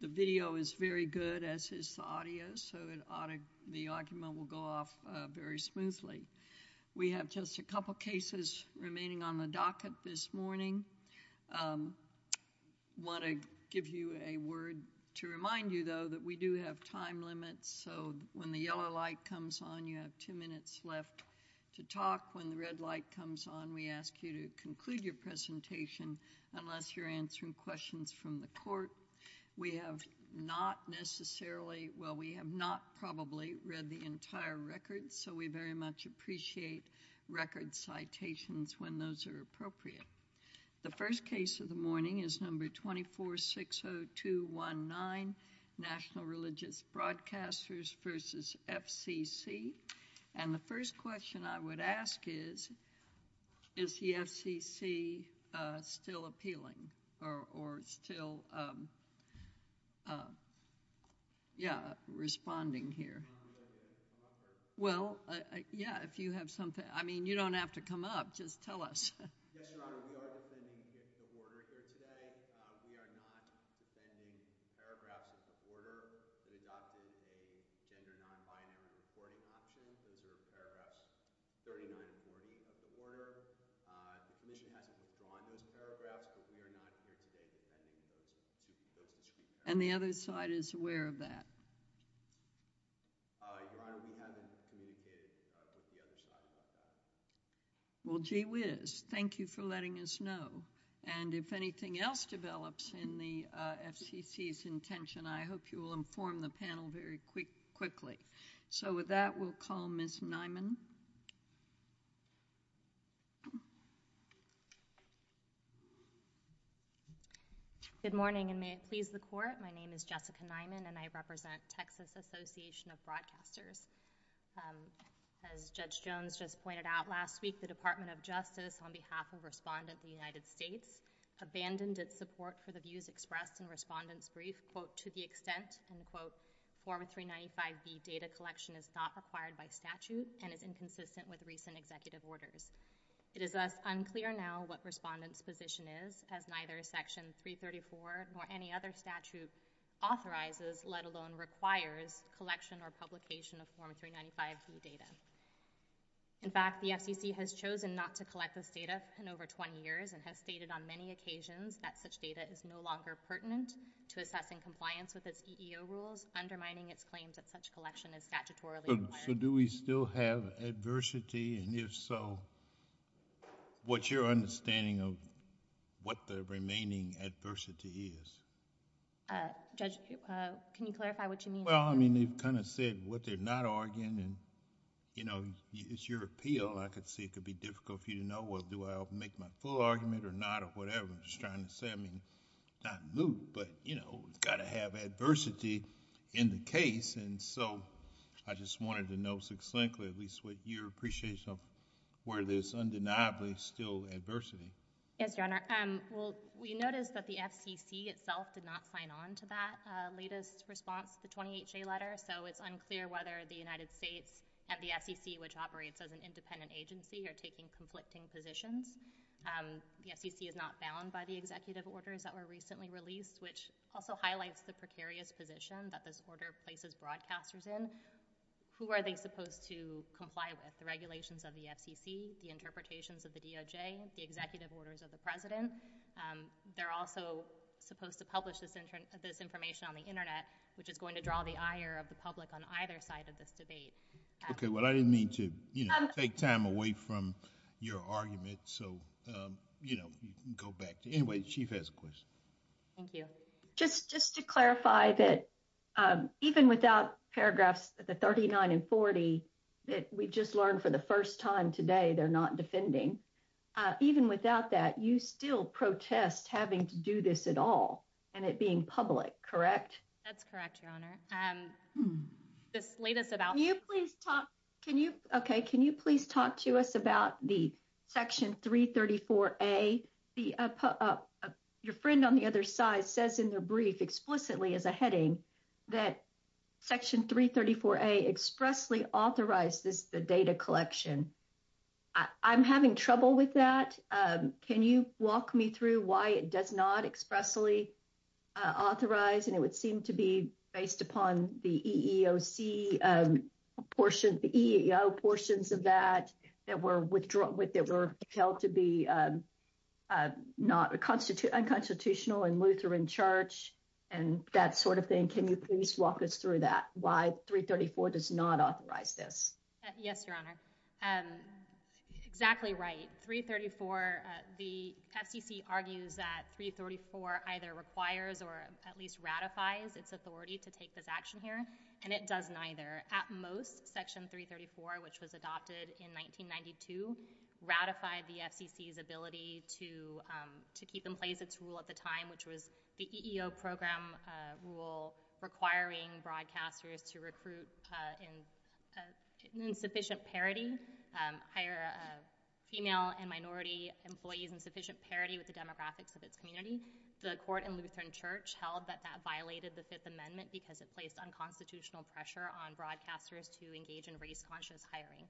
The video is very good, as is the audio, so the argument will go off very smoothly. We have just a couple cases remaining on the docket this morning. Want to give you a word to remind you, though, that we do have time limits, so when the yellow light comes on, you have two minutes left to talk. When the red light comes on, we ask you to conclude your presentation unless you're answering questions from the court. We have not necessarily, well, we have not probably read the entire record, so we very much appreciate record citations when those are appropriate. The first case of the morning is number 2460219, National Religious Broadcasters v. FCC, and the first question I would ask is, is the FCC still appealing or still, yeah, responding here? Well, yeah, if you have something, I mean, you don't have to come up. Just tell us. Yes, Your Honor, we are defending the order here today. We are not defending paragraphs of the order that adopted a gender non-binary reporting option. Those are paragraphs 39 and 40 of the order. The commission hasn't withdrawn those paragraphs, but we are not here today defending those discrete paragraphs. And the other side is aware of that? Your Honor, we haven't communicated with the other side about that. Well, gee whiz. Thank you for letting us know. And if anything else develops in the FCC's intention, I hope you will inform the panel very quickly. So with that, we'll call Ms. Nyman. Good morning, and may it please the Court. My name is Jessica Nyman, and I represent Texas Association of Broadcasters. As Judge Jones just pointed out last week, the Department of Justice, on behalf of Respondent of the United States, abandoned its support for the views expressed in Respondent's brief, quote, to the extent, end quote, Form 395B data collection is not required by statute and is inconsistent with recent executive orders. It is thus unclear now what Respondent's position is, as neither Section 334 nor any other statute authorizes, let alone requires, collection or publication of Form 395B data. In fact, the FCC has chosen not to collect this data in over 20 years and has stated on many occasions that such data is no longer pertinent to assessing compliance with its EEO rules, undermining its claims that such collection is statutorily required. So do we still have adversity? And if so, what's your understanding of what the remaining adversity is? Judge, can you clarify what you mean? Well, I mean, you've kind of said what they're not arguing, and it's your appeal. I could see it could be difficult for you to know, well, do I make my full argument or not, or whatever. I'm just trying to say, I mean, not moot, but it's got to have adversity in the case. And so I just wanted to know succinctly at least what your appreciation of where there's undeniably still adversity. Yes, Your Honor. Well, we noticed that the FCC itself did not sign on to that latest response, the 20HA letter. So it's unclear whether the United States and the FCC, which operates as an independent agency, are taking conflicting positions. The FCC is not bound by the executive orders that were recently released, which also highlights the precarious position that this order places broadcasters in. Who are they supposed to comply with? The regulations of the FCC, the interpretations of the DOJ, the executive orders of the President. They're also supposed to publish this information on the Internet, which is going to draw the ire of the public on either side of this debate. Okay, well, I didn't mean to take time away from your argument, so you can go back to it. Anyway, the Chief has a question. Thank you. Just to clarify that even without paragraphs 39 and 40 that we just learned for the first time today, they're not defending. Even without that, you still protest having to do this at all and it being public, correct? That's correct, Your Honor. This latest about... Can you please talk to us about the Section 334A? Your friend on the other side says in their brief explicitly as a heading that Section 334A expressly authorizes the data collection. I'm having trouble with that. Can you walk me through why it does not expressly authorize and it would seem to be based upon the EEOC portion, the EEO portions of that that were held to be unconstitutional in Lutheran Church and that sort of thing. Can you please walk us through that? Why 334 does not authorize this? Yes, Your Honor. Exactly right. The FCC argues that 334 either requires or at least ratifies its authority to take this action here and it does neither. At most, Section 334, which was adopted in 1992, ratified the FCC's ability to keep in place its rule at the time, which was the EEO program rule requiring broadcasters to recruit in insufficient parity, hire female and minority employees in sufficient parity with the demographics of its community. The court in Lutheran Church held that that violated the Fifth Amendment because it placed unconstitutional pressure on broadcasters to engage in race-conscious hiring.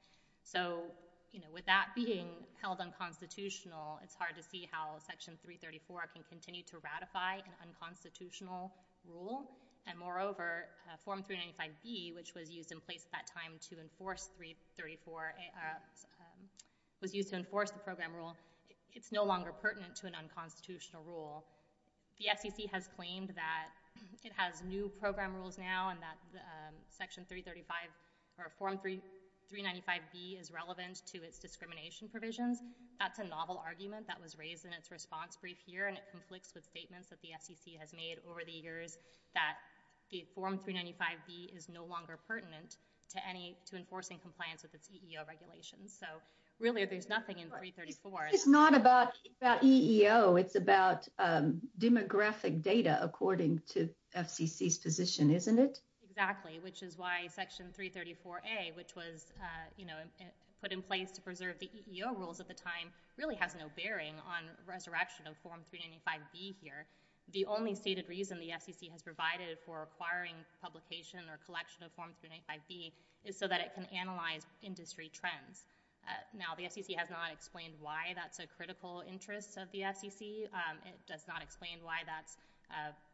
With that being held unconstitutional, it's hard to see how Section 334 can continue to ratify an unconstitutional rule and moreover, Form 395B, which was used in place at that time to enforce 334, was used to enforce the program rule, it's no longer pertinent to an unconstitutional rule. The FCC has claimed that it has new program rules now and that Section 335 or Form 395B is relevant to its discrimination provisions. That's a novel argument that was raised in its response brief here and it conflicts with statements that the FCC has made over the years that the Form 395B is no longer pertinent to enforcing compliance with its EEO regulations. So really, there's nothing in 334. It's not about EEO, it's about demographic data according to FCC's position, isn't it? Exactly, which is why Section 334A, which was put in place to preserve the EEO rules at the time, really has no bearing on resurrection of Form 395B here. The only stated reason the FCC has provided for acquiring publication or collection of Form 395B is so that it can analyze industry trends. Now, the FCC has not explained why that's a critical interest of the FCC. It does not explain why that's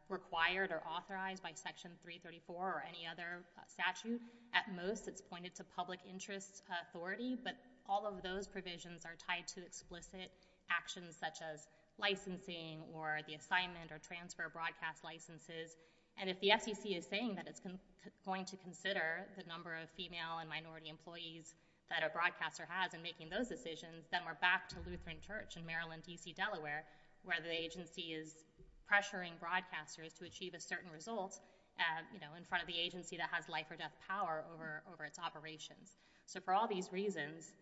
required or authorized by Section 334 or any other statute. At most, it's pointed to public interest authority, but all of those provisions are tied to explicit actions such as licensing or the assignment or transfer of broadcast licenses. And if the FCC is saying that it's going to consider the number of female and minority employees that a broadcaster has in making those decisions, then we're back to Lutheran Church in Maryland, D.C., Delaware, where the agency is pressuring broadcasters to achieve a certain result in front of the agency that has life or death power over its operations. So for all these reasons,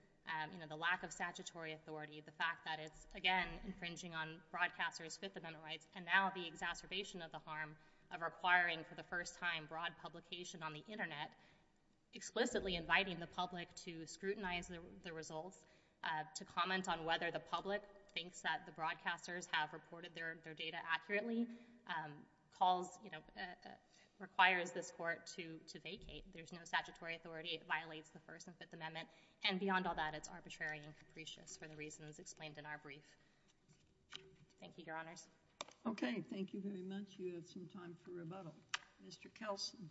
the lack of statutory authority, the fact that it's, again, infringing on broadcasters' Fifth Amendment rights, and now the exacerbation of the harm of requiring for the first time broad publication on the Internet, explicitly inviting the public to scrutinize the results, to comment on whether the public thinks that the broadcasters have reported their data accurately, calls, you know, requires this Court to vacate. There's no statutory authority. It violates the First and Fifth Amendment. And beyond all that, it's arbitrary and capricious for the reasons explained in our brief. Thank you, Your Honors. Okay. Thank you very much. You have some time for rebuttal. Mr. Kelson.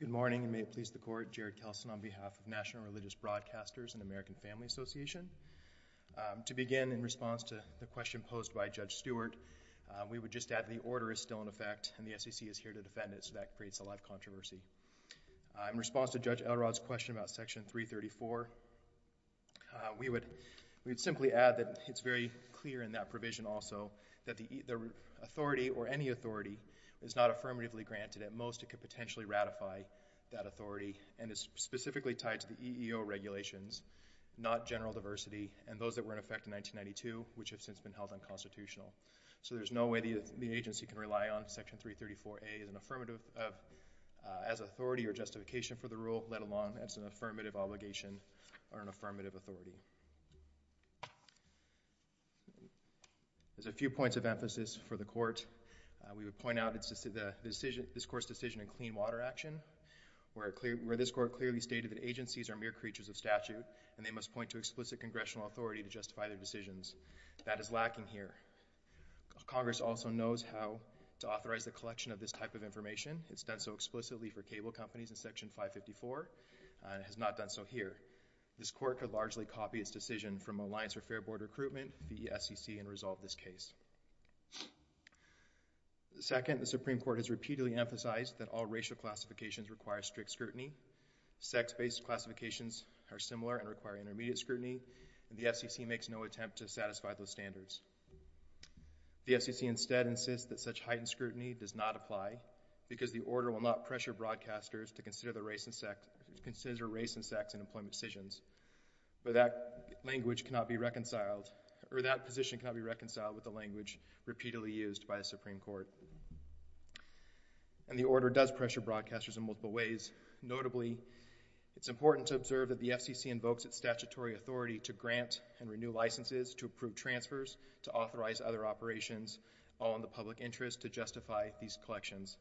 Good morning, and may it please the Court. Jared Kelson on behalf of National Religious Broadcasters and American Family Association. To begin, in response to the question posed by Judge Stewart, we would just add the order is still in effect, and the SEC is here to defend it, so that creates a lot of controversy. In response to Judge Elrod's question about Section 334, we would simply add that it's very clear in that provision also that the authority, or any authority, is not affirmatively granted. At most, it could potentially ratify that authority, and it's specifically tied to the EEO regulations, not general diversity, and those that were in effect in 1992, which have since been held unconstitutional. So there's no way the agency can rely on Section 334A as an authority or justification for a rule, let alone as an affirmative obligation or an affirmative authority. There's a few points of emphasis for the Court. We would point out this Court's decision in Clean Water Action, where this Court clearly stated that agencies are mere creatures of statute, and they must point to explicit congressional authority to justify their decisions. That is lacking here. Congress also knows how to authorize the collection of this type of information. It's done so explicitly for cable companies in Section 554, and it has not done so here. This Court could largely copy its decision from Alliance for Fair Board Recruitment v. SEC and resolve this case. Second, the Supreme Court has repeatedly emphasized that all racial classifications require strict scrutiny. Sex-based classifications are similar and require intermediate scrutiny, and the FCC makes no attempt to satisfy those standards. The FCC instead insists that such heightened scrutiny does not apply because the order will not pressure broadcasters to consider race and sex in employment decisions, but that position cannot be reconciled with the language repeatedly used by the Supreme Court. And the order does pressure broadcasters in multiple ways. Notably, it's important to observe that the FCC invokes its statutory authority to grant and renew licenses, to approve transfers, to authorize other operations, all in the public interest to justify these collections.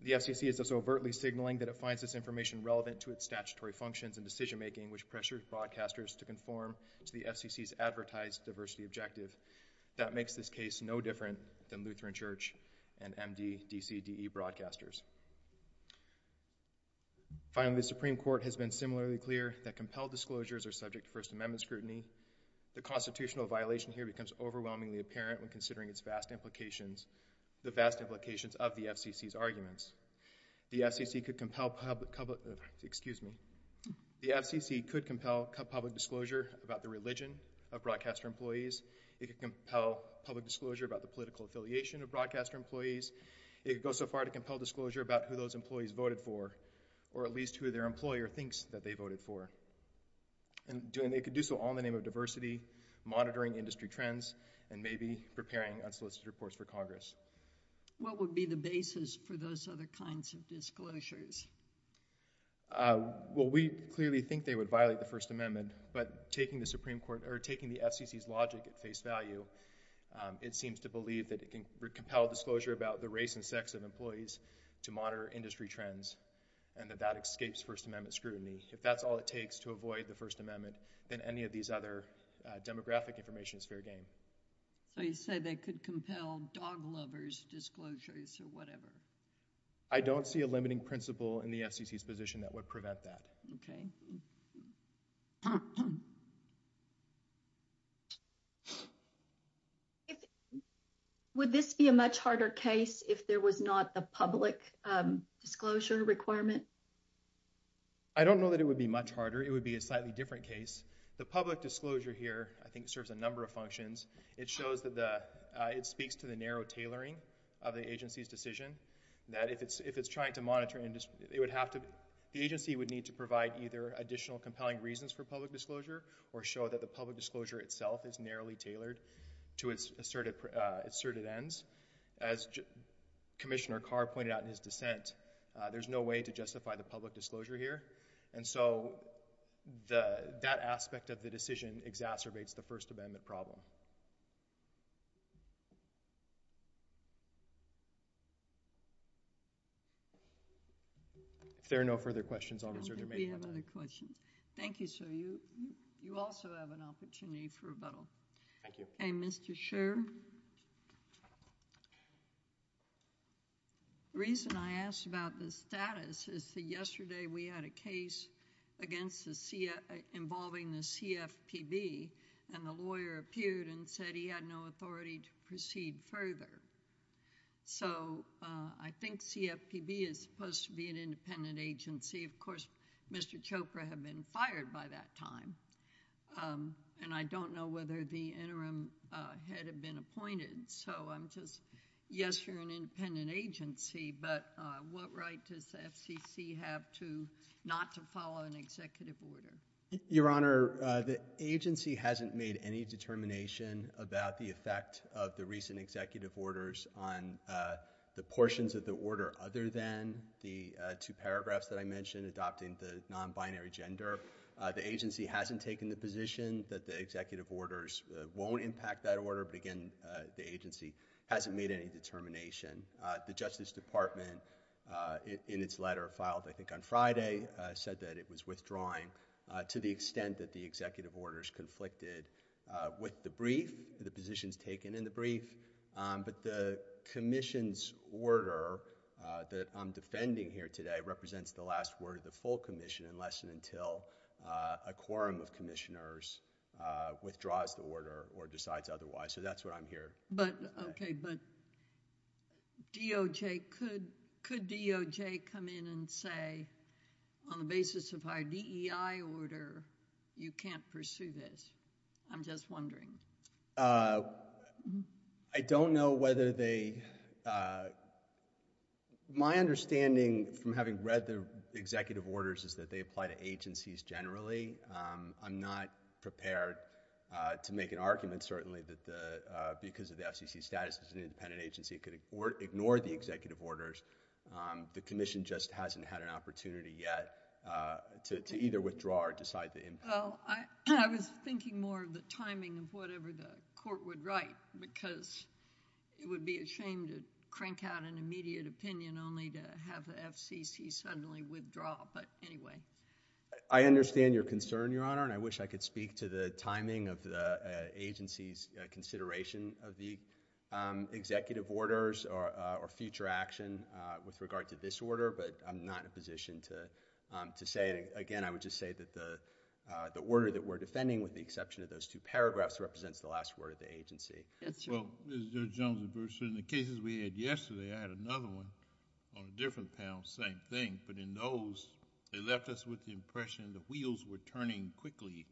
The FCC is also overtly signaling that it finds this information relevant to its statutory functions and decision-making, which pressures broadcasters to conform to the FCC's advertised diversity objective. That makes this case no different than Lutheran Church and MD-DCDE broadcasters. Finally, the Supreme Court has been similarly clear that compelled disclosures are subject to First Amendment scrutiny. The constitutional violation here becomes overwhelmingly apparent when considering its vast implications, the vast implications of the FCC's arguments. The FCC could compel public—excuse me. The FCC could compel public disclosure about the religion of broadcaster employees. It could compel public disclosure about the political affiliation of broadcaster employees. It could go so far to compel disclosure about who those employees voted for, or at least who their employer thinks that they voted for. And it could do so on the name of diversity, monitoring industry trends, and maybe preparing unsolicited reports for Congress. What would be the basis for those other kinds of disclosures? Well, we clearly think they would violate the First Amendment, but taking the Supreme Court—or taking the FCC's logic at face value, it seems to believe that it can compel disclosure about the race and sex of employees to monitor industry trends, and that that escapes First Amendment scrutiny. If that's all it takes to avoid the First Amendment, then any of these other demographic information is fair game. So you say they could compel dog lovers' disclosures or whatever? I don't see a limiting principle in the FCC's position that would prevent that. Okay. Would this be a much harder case if there was not the public disclosure requirement? I don't know that it would be much harder. It would be a slightly different case. The public disclosure here, I think, serves a number of functions. It shows that the—it speaks to the narrow tailoring of the agency's decision, that if it's trying to monitor industry—it would have to—the agency would need to provide either additional compelling reasons for public disclosure or show that the public disclosure itself is narrowly tailored to its asserted ends. As Commissioner Carr pointed out in his dissent, there's no way to justify the public disclosure here, and so that aspect of the decision exacerbates the First Amendment problem. If there are no further questions, I'll reserve the remaining time. We have other questions. Thank you, sir. You also have an opportunity for rebuttal. Thank you. Okay, Mr. Scherr. The reason I asked about the status is that yesterday we had a case involving the CFPB, and the lawyer appeared and said he had no authority to proceed further. So I think CFPB is supposed to be an independent agency. Of course, Mr. Chopra had been fired by that time, and I don't know whether the interim head had been appointed, so I'm just—yes, you're an independent agency, but what right does the FCC have not to follow an executive order? Your Honor, the agency hasn't made any determination about the effect of the recent executive orders on the portions of the order other than the two paragraphs that I mentioned, adopting the non-binary gender. The agency hasn't taken the position that the executive orders won't impact that order, but again, the agency hasn't made any determination. The Justice Department, in its letter filed, I think, on Friday, said that it was withdrawing to the extent that the executive orders conflicted with the brief, the positions taken in the brief, but the commission's order that I'm defending here today represents the last word of the full commission unless and until a quorum of commissioners withdraws the order or decides otherwise, so that's what I'm here to say. Okay, but DOJ, could DOJ come in and say, on the basis of our DEI order, you can't pursue this? I'm just wondering. I don't know whether they, my understanding from having read the executive orders is that they apply to agencies generally. I'm not prepared to make an argument, certainly, that because of the FCC status as an independent agency, it could ignore the executive orders. The commission just hasn't had an opportunity yet to either withdraw or decide the impact. Well, I was thinking more of the timing of whatever the court would write because it would be a shame to crank out an immediate opinion only to have the FCC suddenly withdraw, but anyway. I understand your concern, Your Honor, and I wish I could speak to the timing of the agency's consideration of the executive orders or future action with regard to this order, but I'm not in a position to say it. Again, I would just say that the order that we're defending, with the exception of those two paragraphs, represents the last word of the agency. Well, Mr. Jones, in the cases we had yesterday, I had another one on a different panel, same thing, but in those, they left us with the impression the wheels were turning quickly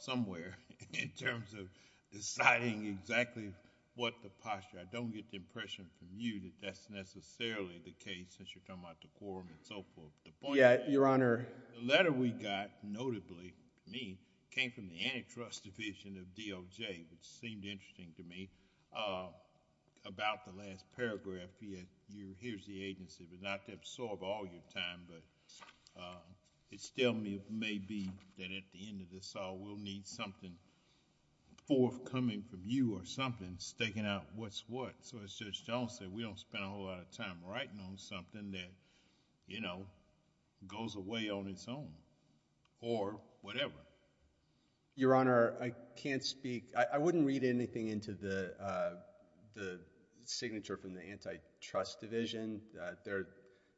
somewhere in terms of deciding exactly what the posture. I don't get the impression from you that that's necessarily the case since you're talking about the quorum and so forth. The point is... Yeah, Your Honor... The letter we got, notably to me, came from the antitrust division of DOJ, which seemed interesting to me, about the last paragraph, here's the agency, but not to absorb all your time, but it still may be that at the end of this all, we'll need something forthcoming from you or something, staking out what's what. So, as Judge Jones said, we don't spend a whole lot of time writing on something that goes away on its own or whatever. Your Honor, I can't speak... I wouldn't read anything into the signature from the antitrust division. They're a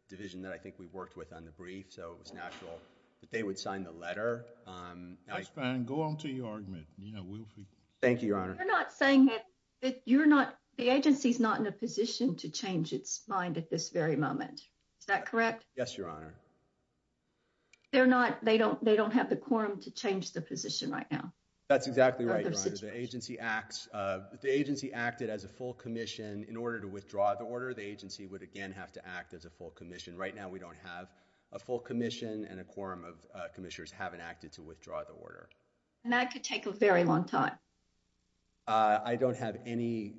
division that I think we worked with on the brief, so it was natural that they would sign the letter. That's fine. Go on to your argument. You know, we'll... Thank you, Your Honor. You're not saying that you're not... the agency's not in a position to change its mind at this very moment. Is that correct? Yes, Your Honor. They're not... they don't have the quorum to change the position right now? That's exactly right, Your Honor. The agency acts... the agency acted as a full commission in order to withdraw the order. The agency would, again, have to act as a full commission. Right now, we don't have a full commission and a quorum of commissioners haven't acted to withdraw the order. And that could take a very long time. I don't have any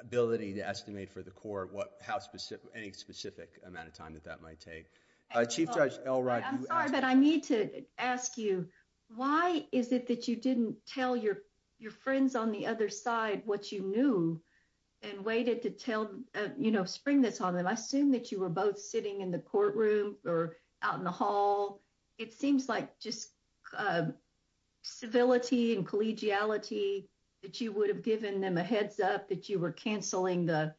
ability to estimate for the court what... how specific... any specific amount of time that that might take. Chief Judge Elrod... I'm sorry, but I need to ask you, why is it that you didn't tell your friends on the other side what you knew and waited to tell... you know, spring this on them? I assume that you were both sitting in the courtroom or out in the hall. It seems like just civility and collegiality that you would have given them a heads up that you were canceling the...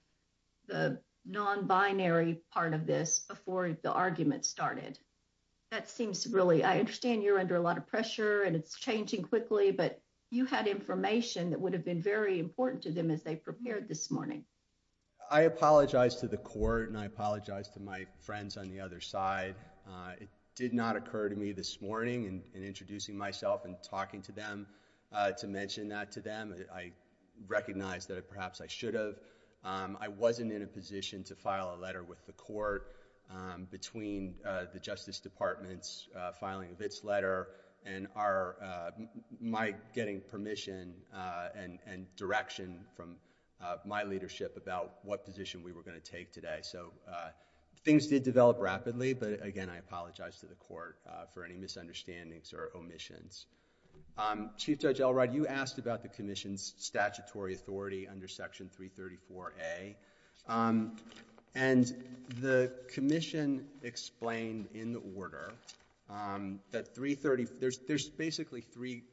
the non-binary part of this before the argument started. That seems really... I understand you're under a lot of pressure and it's changing quickly, but you had information that would have been very important to them as they prepared this morning. I apologize to the court and I apologize to my friends on the other side. It did not occur to me this morning in introducing myself and talking to them to mention that to them. I recognize that perhaps I should have. I wasn't in a position to file a letter with the court between the Justice Department's filing of its letter and our... my getting permission and direction from my leadership about what position we were going to take today. So, things did develop rapidly, but again, I apologize to the court for any misunderstandings or omissions. Chief Judge Elrod, you asked about the Commission's statutory authority under Section 334A. And the Commission explained in the order that 330... there's basically three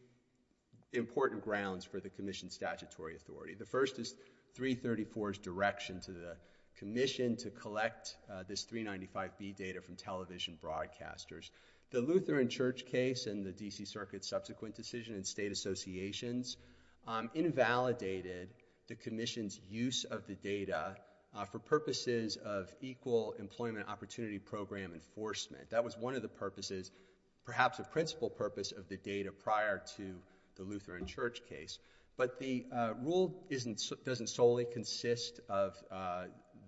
important grounds for the Commission's statutory authority. The first is 334's direction to the Commission to collect this 395B data from television broadcasters. The Lutheran Church case and the D.C. Circuit's subsequent decision and state associations invalidated the Commission's use of the data for purposes of equal employment opportunity program enforcement. That was one of the purposes, perhaps a principal purpose of the data prior to the Lutheran Church case. But the rule doesn't solely consist of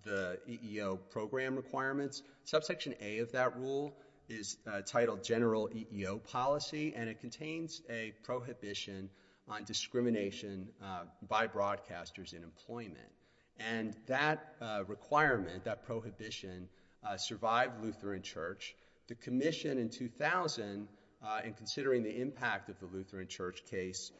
the EEO program requirements. Subsection A of that rule is titled General EEO Policy, and it contains a prohibition on discrimination by broadcasters in employment. And that requirement, that prohibition, survived Lutheran Church. The Commission in 2000, in considering the impact of the Lutheran Church case,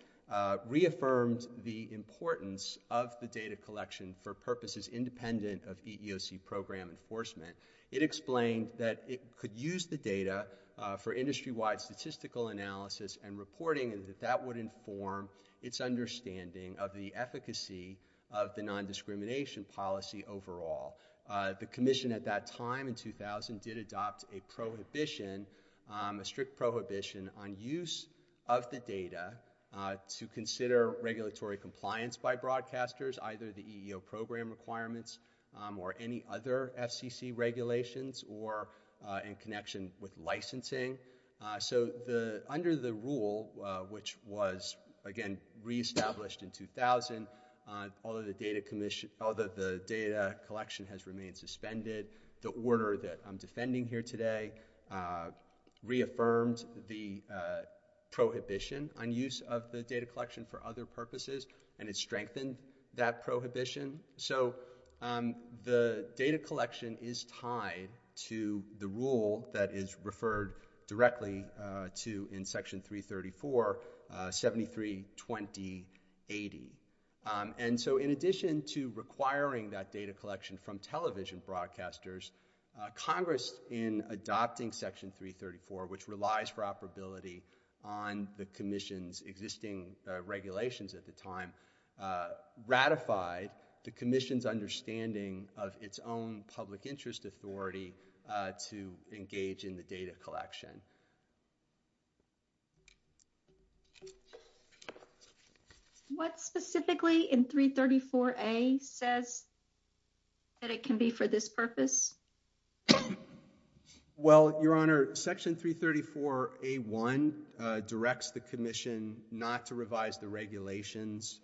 reaffirmed the importance of the data collection for purposes independent of EEOC program enforcement. It explained that it could use the data for industry-wide statistical analysis and reporting and that that would inform its understanding of the efficacy of the nondiscrimination policy overall. The Commission at that time, in 2000, did adopt a prohibition, a strict prohibition on use of the data to consider regulatory compliance by broadcasters, either the EEO program requirements or any other FCC regulations or in connection with licensing. So under the rule, which was, again, reestablished in 2000, although the data collection had remained suspended, the order that I'm defending here today reaffirmed the prohibition on use of the data collection for other purposes, and it strengthened that prohibition. So the data collection is tied to the rule that is referred directly to in Section 334, 73-2080. And so in addition to requiring that data collection from television broadcasters, Congress, in adopting Section 334, which relies for operability on the Commission's existing regulations at the time, ratified the Commission's understanding of its own public interest authority to engage in the data collection. Thank you again. What specifically in 334A says that it can be for this purpose? Well, Your Honor, Section 334A-1 directs the Commission not to revise the regulations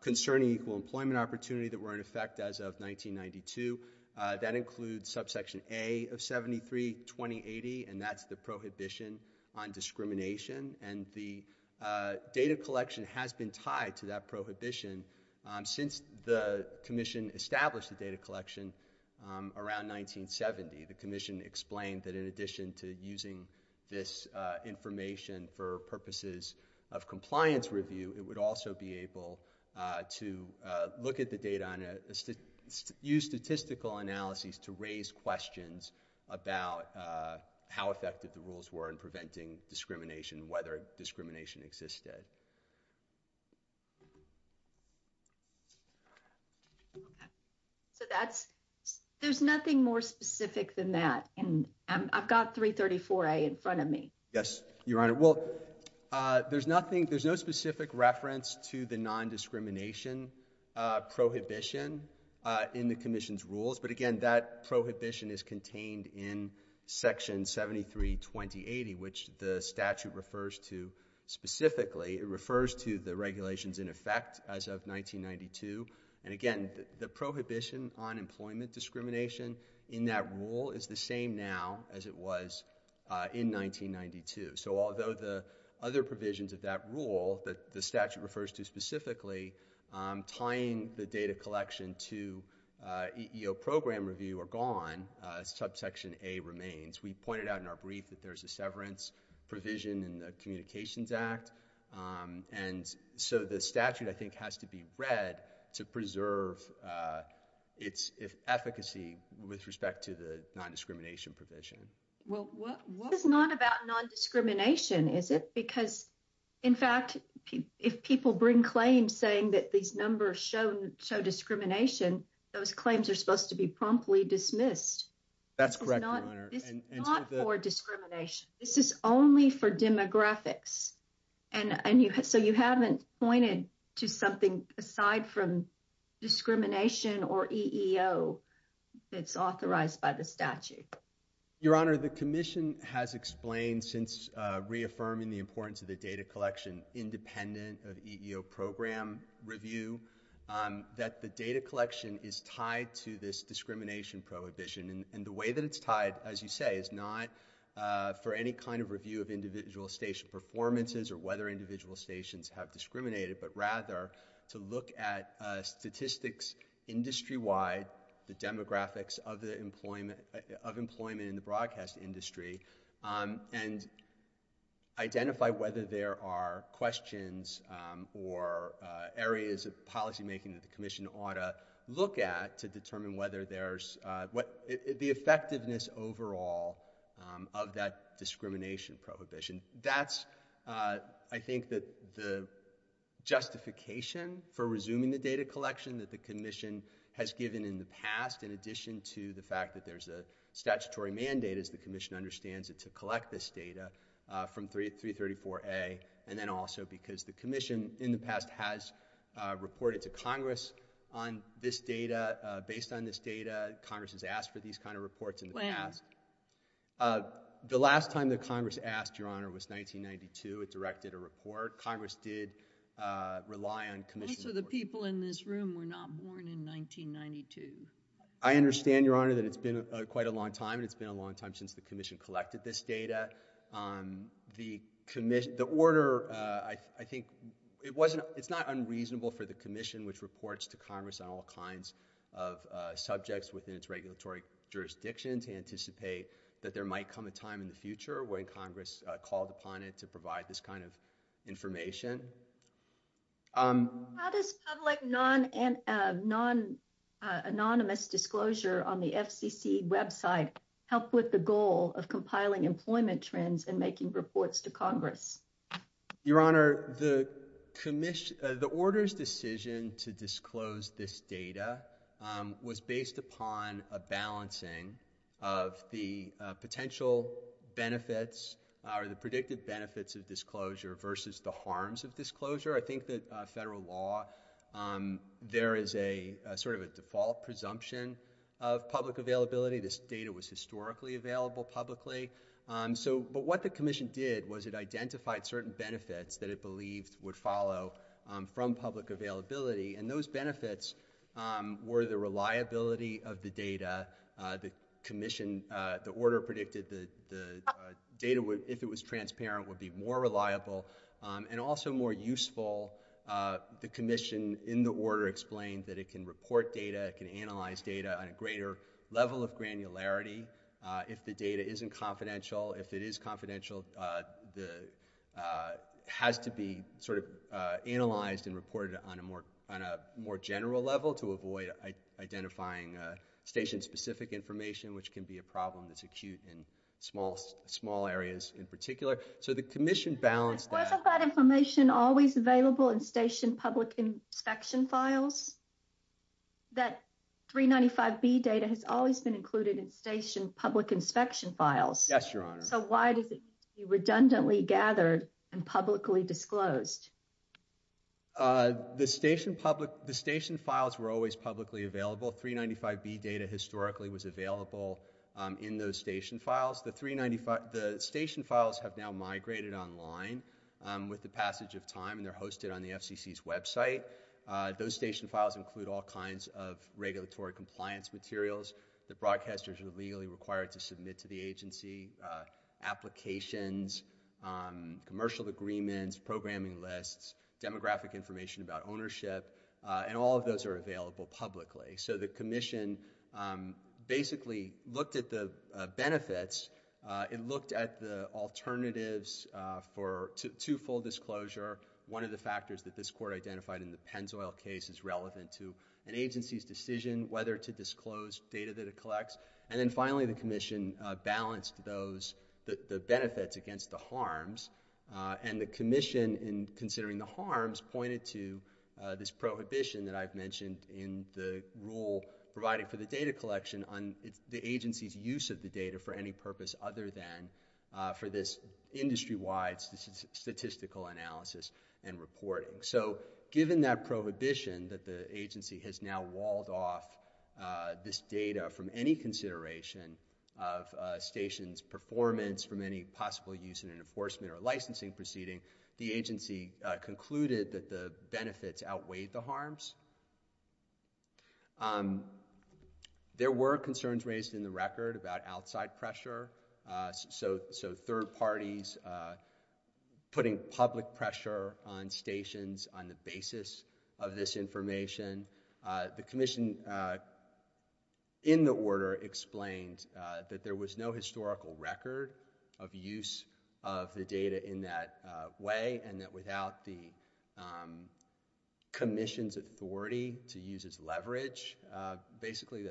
concerning equal employment opportunity that were in effect as of 1992. That includes subsection A of 73-2080, and that's the prohibition on discrimination. And the data collection has been tied to that prohibition since the Commission established the data collection around 1970. The Commission explained that in addition to using this information for purposes of compliance review, it would also be able to look at the data and use statistical analyses to raise questions about how effective the rules were in preventing discrimination, whether discrimination existed. So there's nothing more specific than that, and I've got 334A in front of me. Yes, Your Honor. There's no specific reference to the nondiscrimination prohibition in the Commission's rules, but again, that prohibition is contained in Section 73-2080, which the statute refers to specifically. It refers to the regulations in effect as of 1992. And again, the prohibition on employment discrimination in that rule is the same now as it was in 1992. So although the other provisions of that rule that the statute refers to specifically, tying the data collection to EEO program review are gone, subsection A remains. We pointed out in our brief that there's a severance provision in the Communications Act. And so the statute, I think, has to be read to preserve its efficacy with respect to the nondiscrimination provision. This is not about nondiscrimination, is it? Because, in fact, if people bring claims saying that these numbers show discrimination, those claims are supposed to be promptly dismissed. That's correct, Your Honor. This is not for discrimination. This is only for demographics. And so you haven't pointed to something aside from discrimination or EEO that's authorized by the statute. Your Honor, the Commission has explained since reaffirming the importance of the data collection independent of EEO program review that the data collection is tied to this discrimination prohibition. And the way that it's tied, as you say, is not for any kind of review of individual station performances or whether individual stations have discriminated, but rather to look at statistics industry-wide, the demographics of employment in the broadcast industry, and identify whether there are questions or areas of policymaking that the Commission ought to look at to determine the effectiveness overall of that discrimination prohibition. That's, I think, the justification for resuming the data collection that the Commission has given in the past, in addition to the fact that there's a statutory mandate, as the Commission understands it, to collect this data from 334A, and then also because the Commission in the past has reported to Congress on this data. Based on this data, Congress has asked for these kind of reports in the past. The last time that Congress asked, Your Honor, was 1992. It directed a report. Congress did rely on Commission reports. Most of the people in this room were not born in 1992. I understand, Your Honor, that it's been quite a long time, and it's been a long time since the Commission collected this data. The order, I think, it's not unreasonable for the Commission, which reports to Congress on all kinds of subjects within its regulatory jurisdiction, to anticipate that there might come a time in the future when Congress called upon it to provide this kind of information. How does public non-anonymous disclosure on the FCC website help with the goal of compiling employment trends and making reports to Congress? Your Honor, the order's decision to disclose this data was based upon a balancing of the potential benefits or the predicted benefits of disclosure versus the harms of disclosure. I think that federal law, there is sort of a default presumption of public availability. This data was historically available publicly. But what the Commission did was it identified certain benefits that it believed would follow from public availability, and those benefits were the reliability of the data. The Commission, the order predicted the data, if it was transparent, would be more reliable and also more useful. The Commission, in the order, explained that it can report data, it can analyze data on a greater level of granularity if the data isn't confidential. If it is confidential, it has to be sort of analyzed and reported on a more general level to avoid identifying station-specific information, which can be a problem that's acute in small areas in particular. So the Commission balanced that. Is some of that information always available in station public inspection files? That 395B data has always been included in station public inspection files. Yes, Your Honor. So why does it need to be redundantly gathered and publicly disclosed? The station files were always publicly available. 395B data historically was available in those station files. The station files have now migrated online with the passage of time, and they're hosted on the FCC's website. Those station files include all kinds of regulatory compliance materials that broadcasters are legally required to submit to the agency, applications, commercial agreements, programming lists, demographic information about ownership, and all of those are available publicly. So the Commission basically looked at the benefits. It looked at the alternatives for two-fold disclosure. One of the factors that this court identified in the Pennzoil case is relevant to an agency's decision whether to disclose data that it collects. And then finally, the Commission balanced the benefits against the harms, and the Commission, in considering the harms, pointed to this prohibition that I've mentioned in the rule provided for the data collection on the agency's use of the data for any purpose other than for this industry-wide statistical analysis and reporting. So given that prohibition that the agency has now walled off this data from any consideration of stations' performance from any possible use in an enforcement or licensing proceeding, the agency concluded that the benefits outweighed the harms. There were concerns raised in the record about outside pressure, so third parties putting public pressure on stations on the basis of this information. The Commission, in the order, explained that there was no historical record of use of the data in that way and that without the Commission's authority to use its leverage, basically,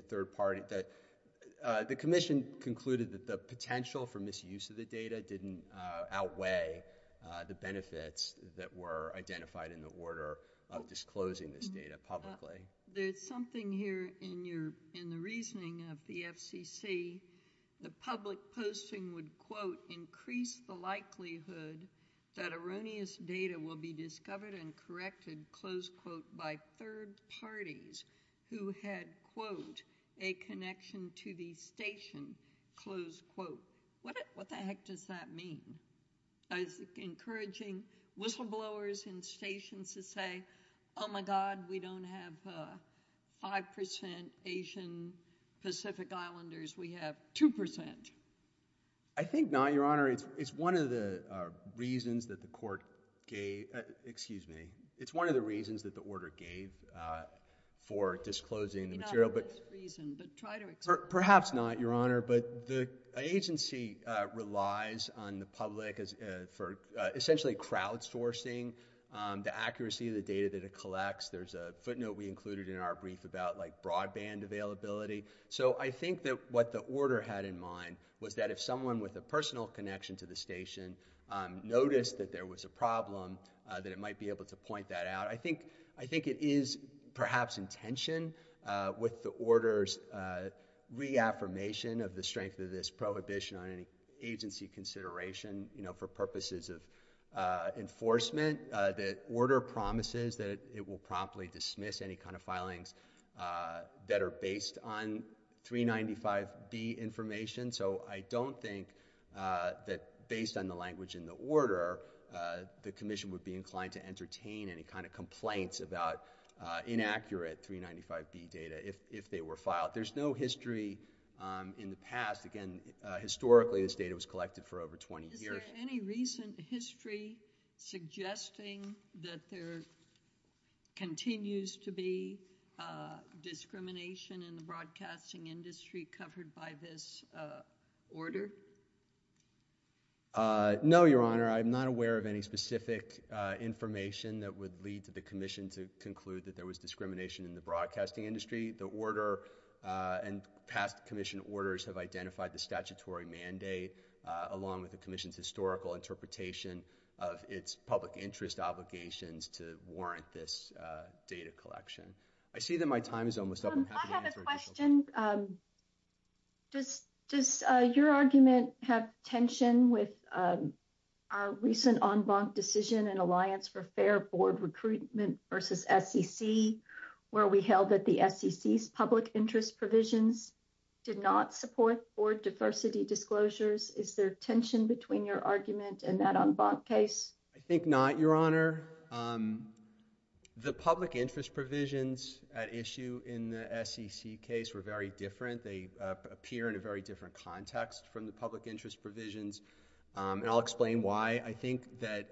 the Commission concluded that the potential for misuse of the data didn't outweigh the benefits that were identified in the order of disclosing this data publicly. There's something here in the reasoning of the FCC. The public posting would, quote, that erroneous data will be discovered and corrected, close quote, by third parties who had, quote, a connection to the station, close quote. What the heck does that mean? Is it encouraging whistleblowers in stations to say, oh, my God, we don't have 5% Asian Pacific Islanders, we have 2%? I think not, Your Honor. It's one of the reasons that the order gave for disclosing the material. Maybe not for this reason, but try to explain. Perhaps not, Your Honor, but the agency relies on the public for essentially crowdsourcing the accuracy of the data that it collects. There's a footnote we included in our brief about broadband availability. So I think that what the order had in mind was that if someone with a personal connection to the station noticed that there was a problem, that it might be able to point that out. I think it is perhaps in tension with the order's reaffirmation of the strength of this prohibition on any agency consideration for purposes of enforcement. The order promises that it will promptly dismiss any kind of filings that are based on 395B information. So I don't think that based on the language in the order, the commission would be inclined to entertain any kind of complaints about inaccurate 395B data if they were filed. There's no history in the past. Again, historically, this data was collected for over 20 years. Is there any recent history suggesting that there continues to be discrimination in the broadcasting industry covered by this order? No, Your Honor. I'm not aware of any specific information that would lead to the commission to conclude that there was discrimination in the broadcasting industry. The order and past commission orders have identified the statutory mandate along with the commission's historical interpretation of its public interest obligations to warrant this data collection. I see that my time is almost up. I'm happy to answer any questions. I have a question. Does your argument have tension with our recent en banc decision in Alliance for Fair Board Recruitment versus SEC where we held that the SEC's public interest provisions did not support board diversity disclosures? Is there tension between your argument and that en banc case? I think not, Your Honor. The public interest provisions at issue in the SEC case were very different. They appear in a very different context from the public interest provisions, and I'll explain why. I think that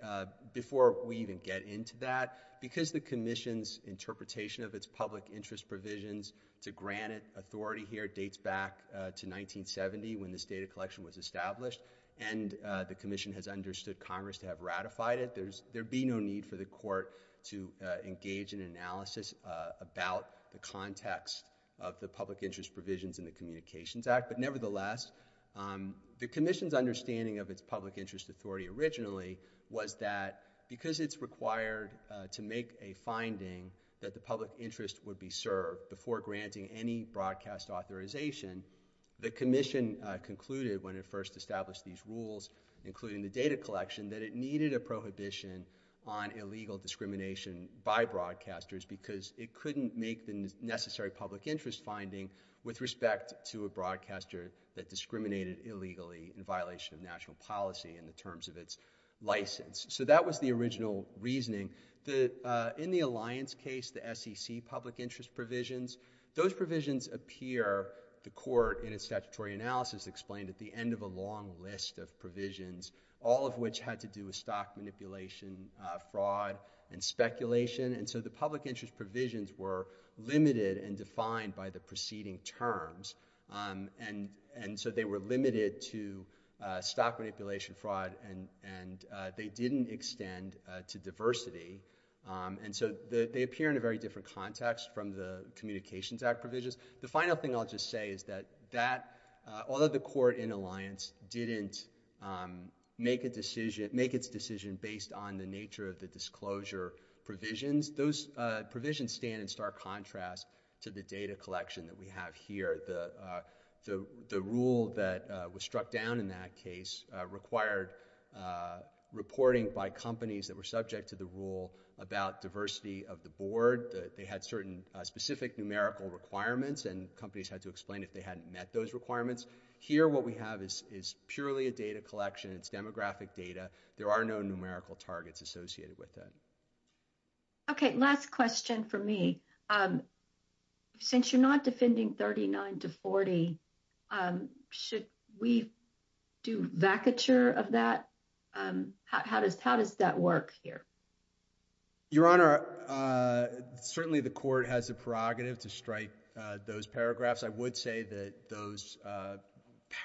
before we even get into that, because the commission's interpretation of its public interest provisions to grant it authority here dates back to 1970 when this data collection was established, and the commission has understood Congress to have ratified it, there would be no need for the court to engage in analysis about the context of the public interest provisions in the Communications Act. But nevertheless, the commission's understanding of its public interest authority originally was that because it's required to make a finding that the public interest would be served before granting any broadcast authorization, the commission concluded when it first established these rules, including the data collection, that it needed a prohibition on illegal discrimination by broadcasters because it couldn't make the necessary public interest finding with respect to a broadcaster that discriminated illegally in violation of national policy in the terms of its license. So that was the original reasoning. In the Alliance case, the SEC public interest provisions, those provisions appear, the court in its statutory analysis explained, at the end of a long list of provisions, all of which had to do with stock manipulation, fraud, and speculation. And so the public interest provisions were limited and defined by the preceding terms. And so they were limited to stock manipulation, fraud, and they didn't extend to diversity. And so they appear in a very different context from the Communications Act provisions. The final thing I'll just say is that that, although the court in Alliance didn't make a decision, make its decision based on the nature of the disclosure provisions, those provisions stand in stark contrast to the data collection that we have here. The rule that was struck down in that case required reporting by companies that were subject to the rule about diversity of the board. They had certain specific numerical requirements, and companies had to explain if they hadn't met those requirements. Here, what we have is purely a data collection. It's demographic data. There are no numerical targets associated with that. Okay, last question for me. Since you're not defending 39 to 40, should we do vacature of that? How does that work here? Your Honor, certainly the court has a prerogative to strike those paragraphs. I would say that those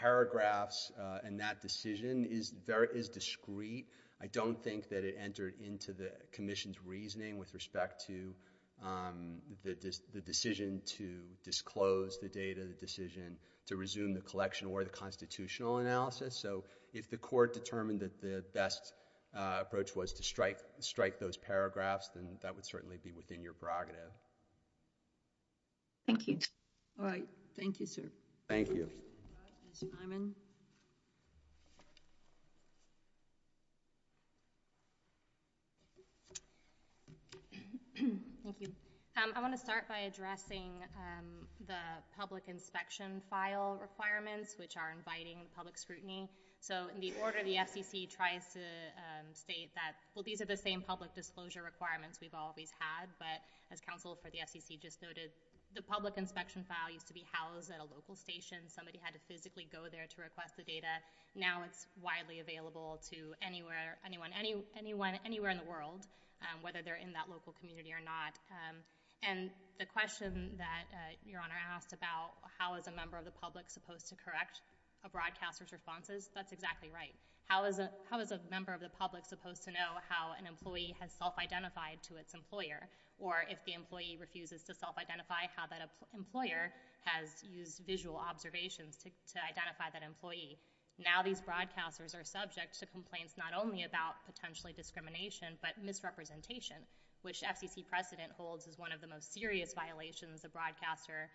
paragraphs and that decision is discrete. I don't think that it entered into the commission's reasoning with respect to the decision to disclose the data, the decision to resume the collection, or the constitutional analysis. If the court determined that the best approach was to strike those paragraphs, then that would certainly be within your prerogative. Thank you. All right. Thank you, sir. Thank you. Ms. Simon? Thank you. I want to start by addressing the public inspection file requirements, which are inviting public scrutiny. In the order the FCC tries to state that, well, these are the same public disclosure requirements we've always had, but as counsel for the FCC just noted, the public inspection file used to be housed at a local station. Somebody had to physically go there to request the data. Now it's widely available to anyone anywhere in the world, whether they're in that local community or not. And the question that your Honor asked about how is a member of the public supposed to correct a broadcaster's responses, that's exactly right. How is a member of the public supposed to know how an employee has self-identified to its employer, or if the employee refuses to self-identify how that employer has used visual observations to identify that employee? Now these broadcasters are subject to complaints not only about potentially discrimination but misrepresentation, which FCC precedent holds is one of the most serious violations a broadcaster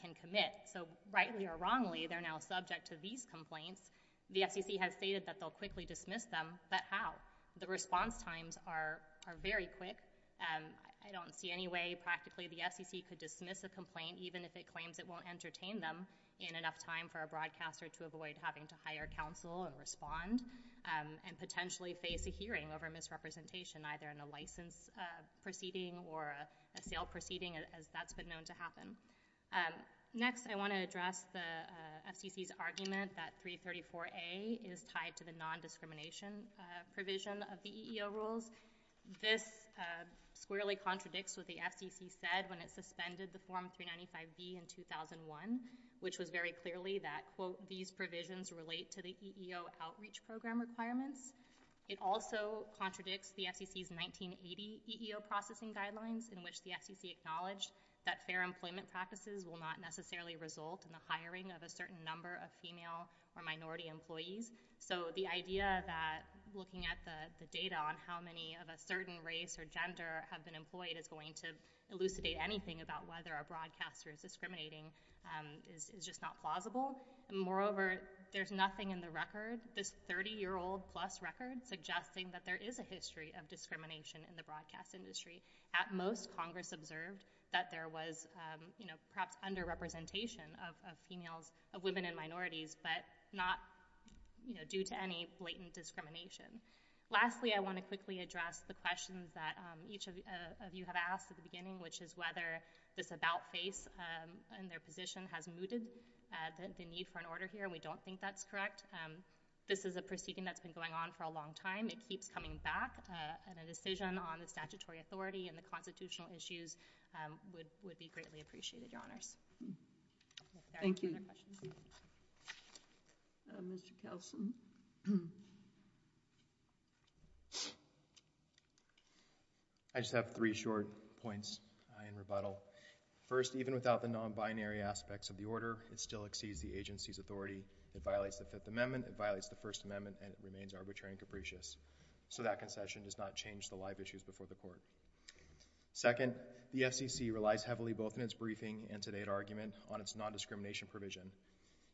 can commit. So rightly or wrongly, they're now subject to these complaints. The FCC has stated that they'll quickly dismiss them, but how? The response times are very quick. I don't see any way practically the FCC could dismiss a complaint even if it claims it won't entertain them in enough time for a broadcaster to avoid having to hire counsel and respond and potentially face a hearing over misrepresentation either in a license proceeding or a sale proceeding, as that's been known to happen. Next I want to address the FCC's argument that 334A is tied to the nondiscrimination provision of the EEO rules. This squarely contradicts what the FCC said when it suspended the Form 395B in 2001, which was very clearly that, quote, these provisions relate to the EEO outreach program requirements. It also contradicts the FCC's 1980 EEO processing guidelines in which the FCC acknowledged that fair employment practices will not necessarily result in the hiring of a certain number of female or minority employees. So the idea that looking at the data on how many of a certain race or gender have been employed is going to elucidate anything about whether a broadcaster is discriminating is just not plausible. Moreover, there's nothing in the record, this 30-year-old-plus record, suggesting that there is a history of discrimination in the broadcast industry. At most, Congress observed that there was perhaps underrepresentation of women and minorities, but not due to any blatant discrimination. Lastly, I want to quickly address the questions that each of you have asked at the beginning, which is whether this about-face in their position has mooted the need for an order here, and we don't think that's correct. This is a proceeding that's been going on for a long time. It keeps coming back, and a decision on the statutory authority and the constitutional issues would be greatly appreciated, Your Honors. Thank you. Mr. Kelson? I just have three short points in rebuttal. First, even without the non-binary aspects of the order, it still exceeds the agency's authority. It violates the Fifth Amendment, it violates the First Amendment, and it remains arbitrary and capricious. So that concession does not change the live issues before the court. Second, the FCC relies heavily both in its briefing and today's argument on its non-discrimination provision.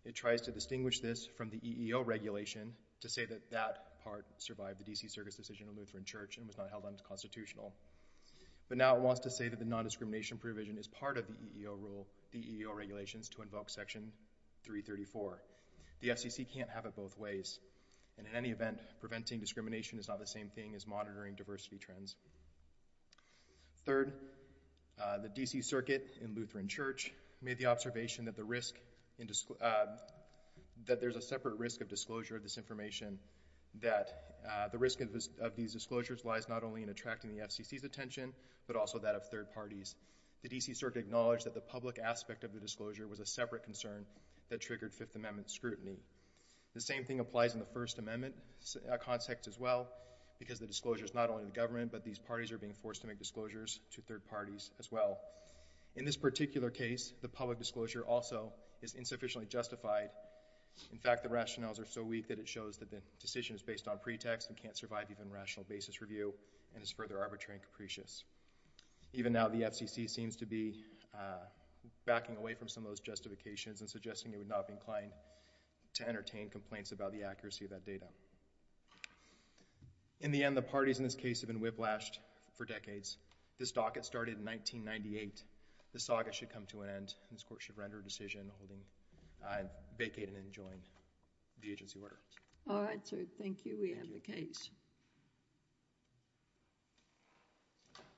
It tries to distinguish this from the EEO regulation to say that that part survived the D.C. Circus decision on Lutheran Church and was not held unconstitutional. But now it wants to say that the non-discrimination provision is part of the EEO rule, the EEO regulations, to invoke Section 334. The FCC can't have it both ways. And in any event, preventing discrimination is not the same thing as monitoring diversity trends. Third, the D.C. Circuit in Lutheran Church made the observation that there's a separate risk of disclosure of this information, that the risk of these disclosures lies not only in attracting the FCC's attention, but also that of third parties. The D.C. Circuit acknowledged that the public aspect of the disclosure was a separate concern that triggered Fifth Amendment scrutiny. The same thing applies in the First Amendment context as well, because the disclosure is not only the government, but these parties are being forced to make disclosures to third parties as well. In this particular case, the public disclosure also is insufficiently justified. In fact, the rationales are so weak that it shows that the decision is based on pretext and can't survive even rational basis review and is further arbitrary and capricious. Even now, the FCC seems to be backing away from some of those justifications and suggesting it would not be inclined to entertain complaints about the accuracy of that data. In the end, the parties in this case have been whiplashed for decades. This docket started in 1998. This saga should come to an end. This Court should render a decision holding, vacate and enjoin the agency order. All right, sir. Thank you. We end the case.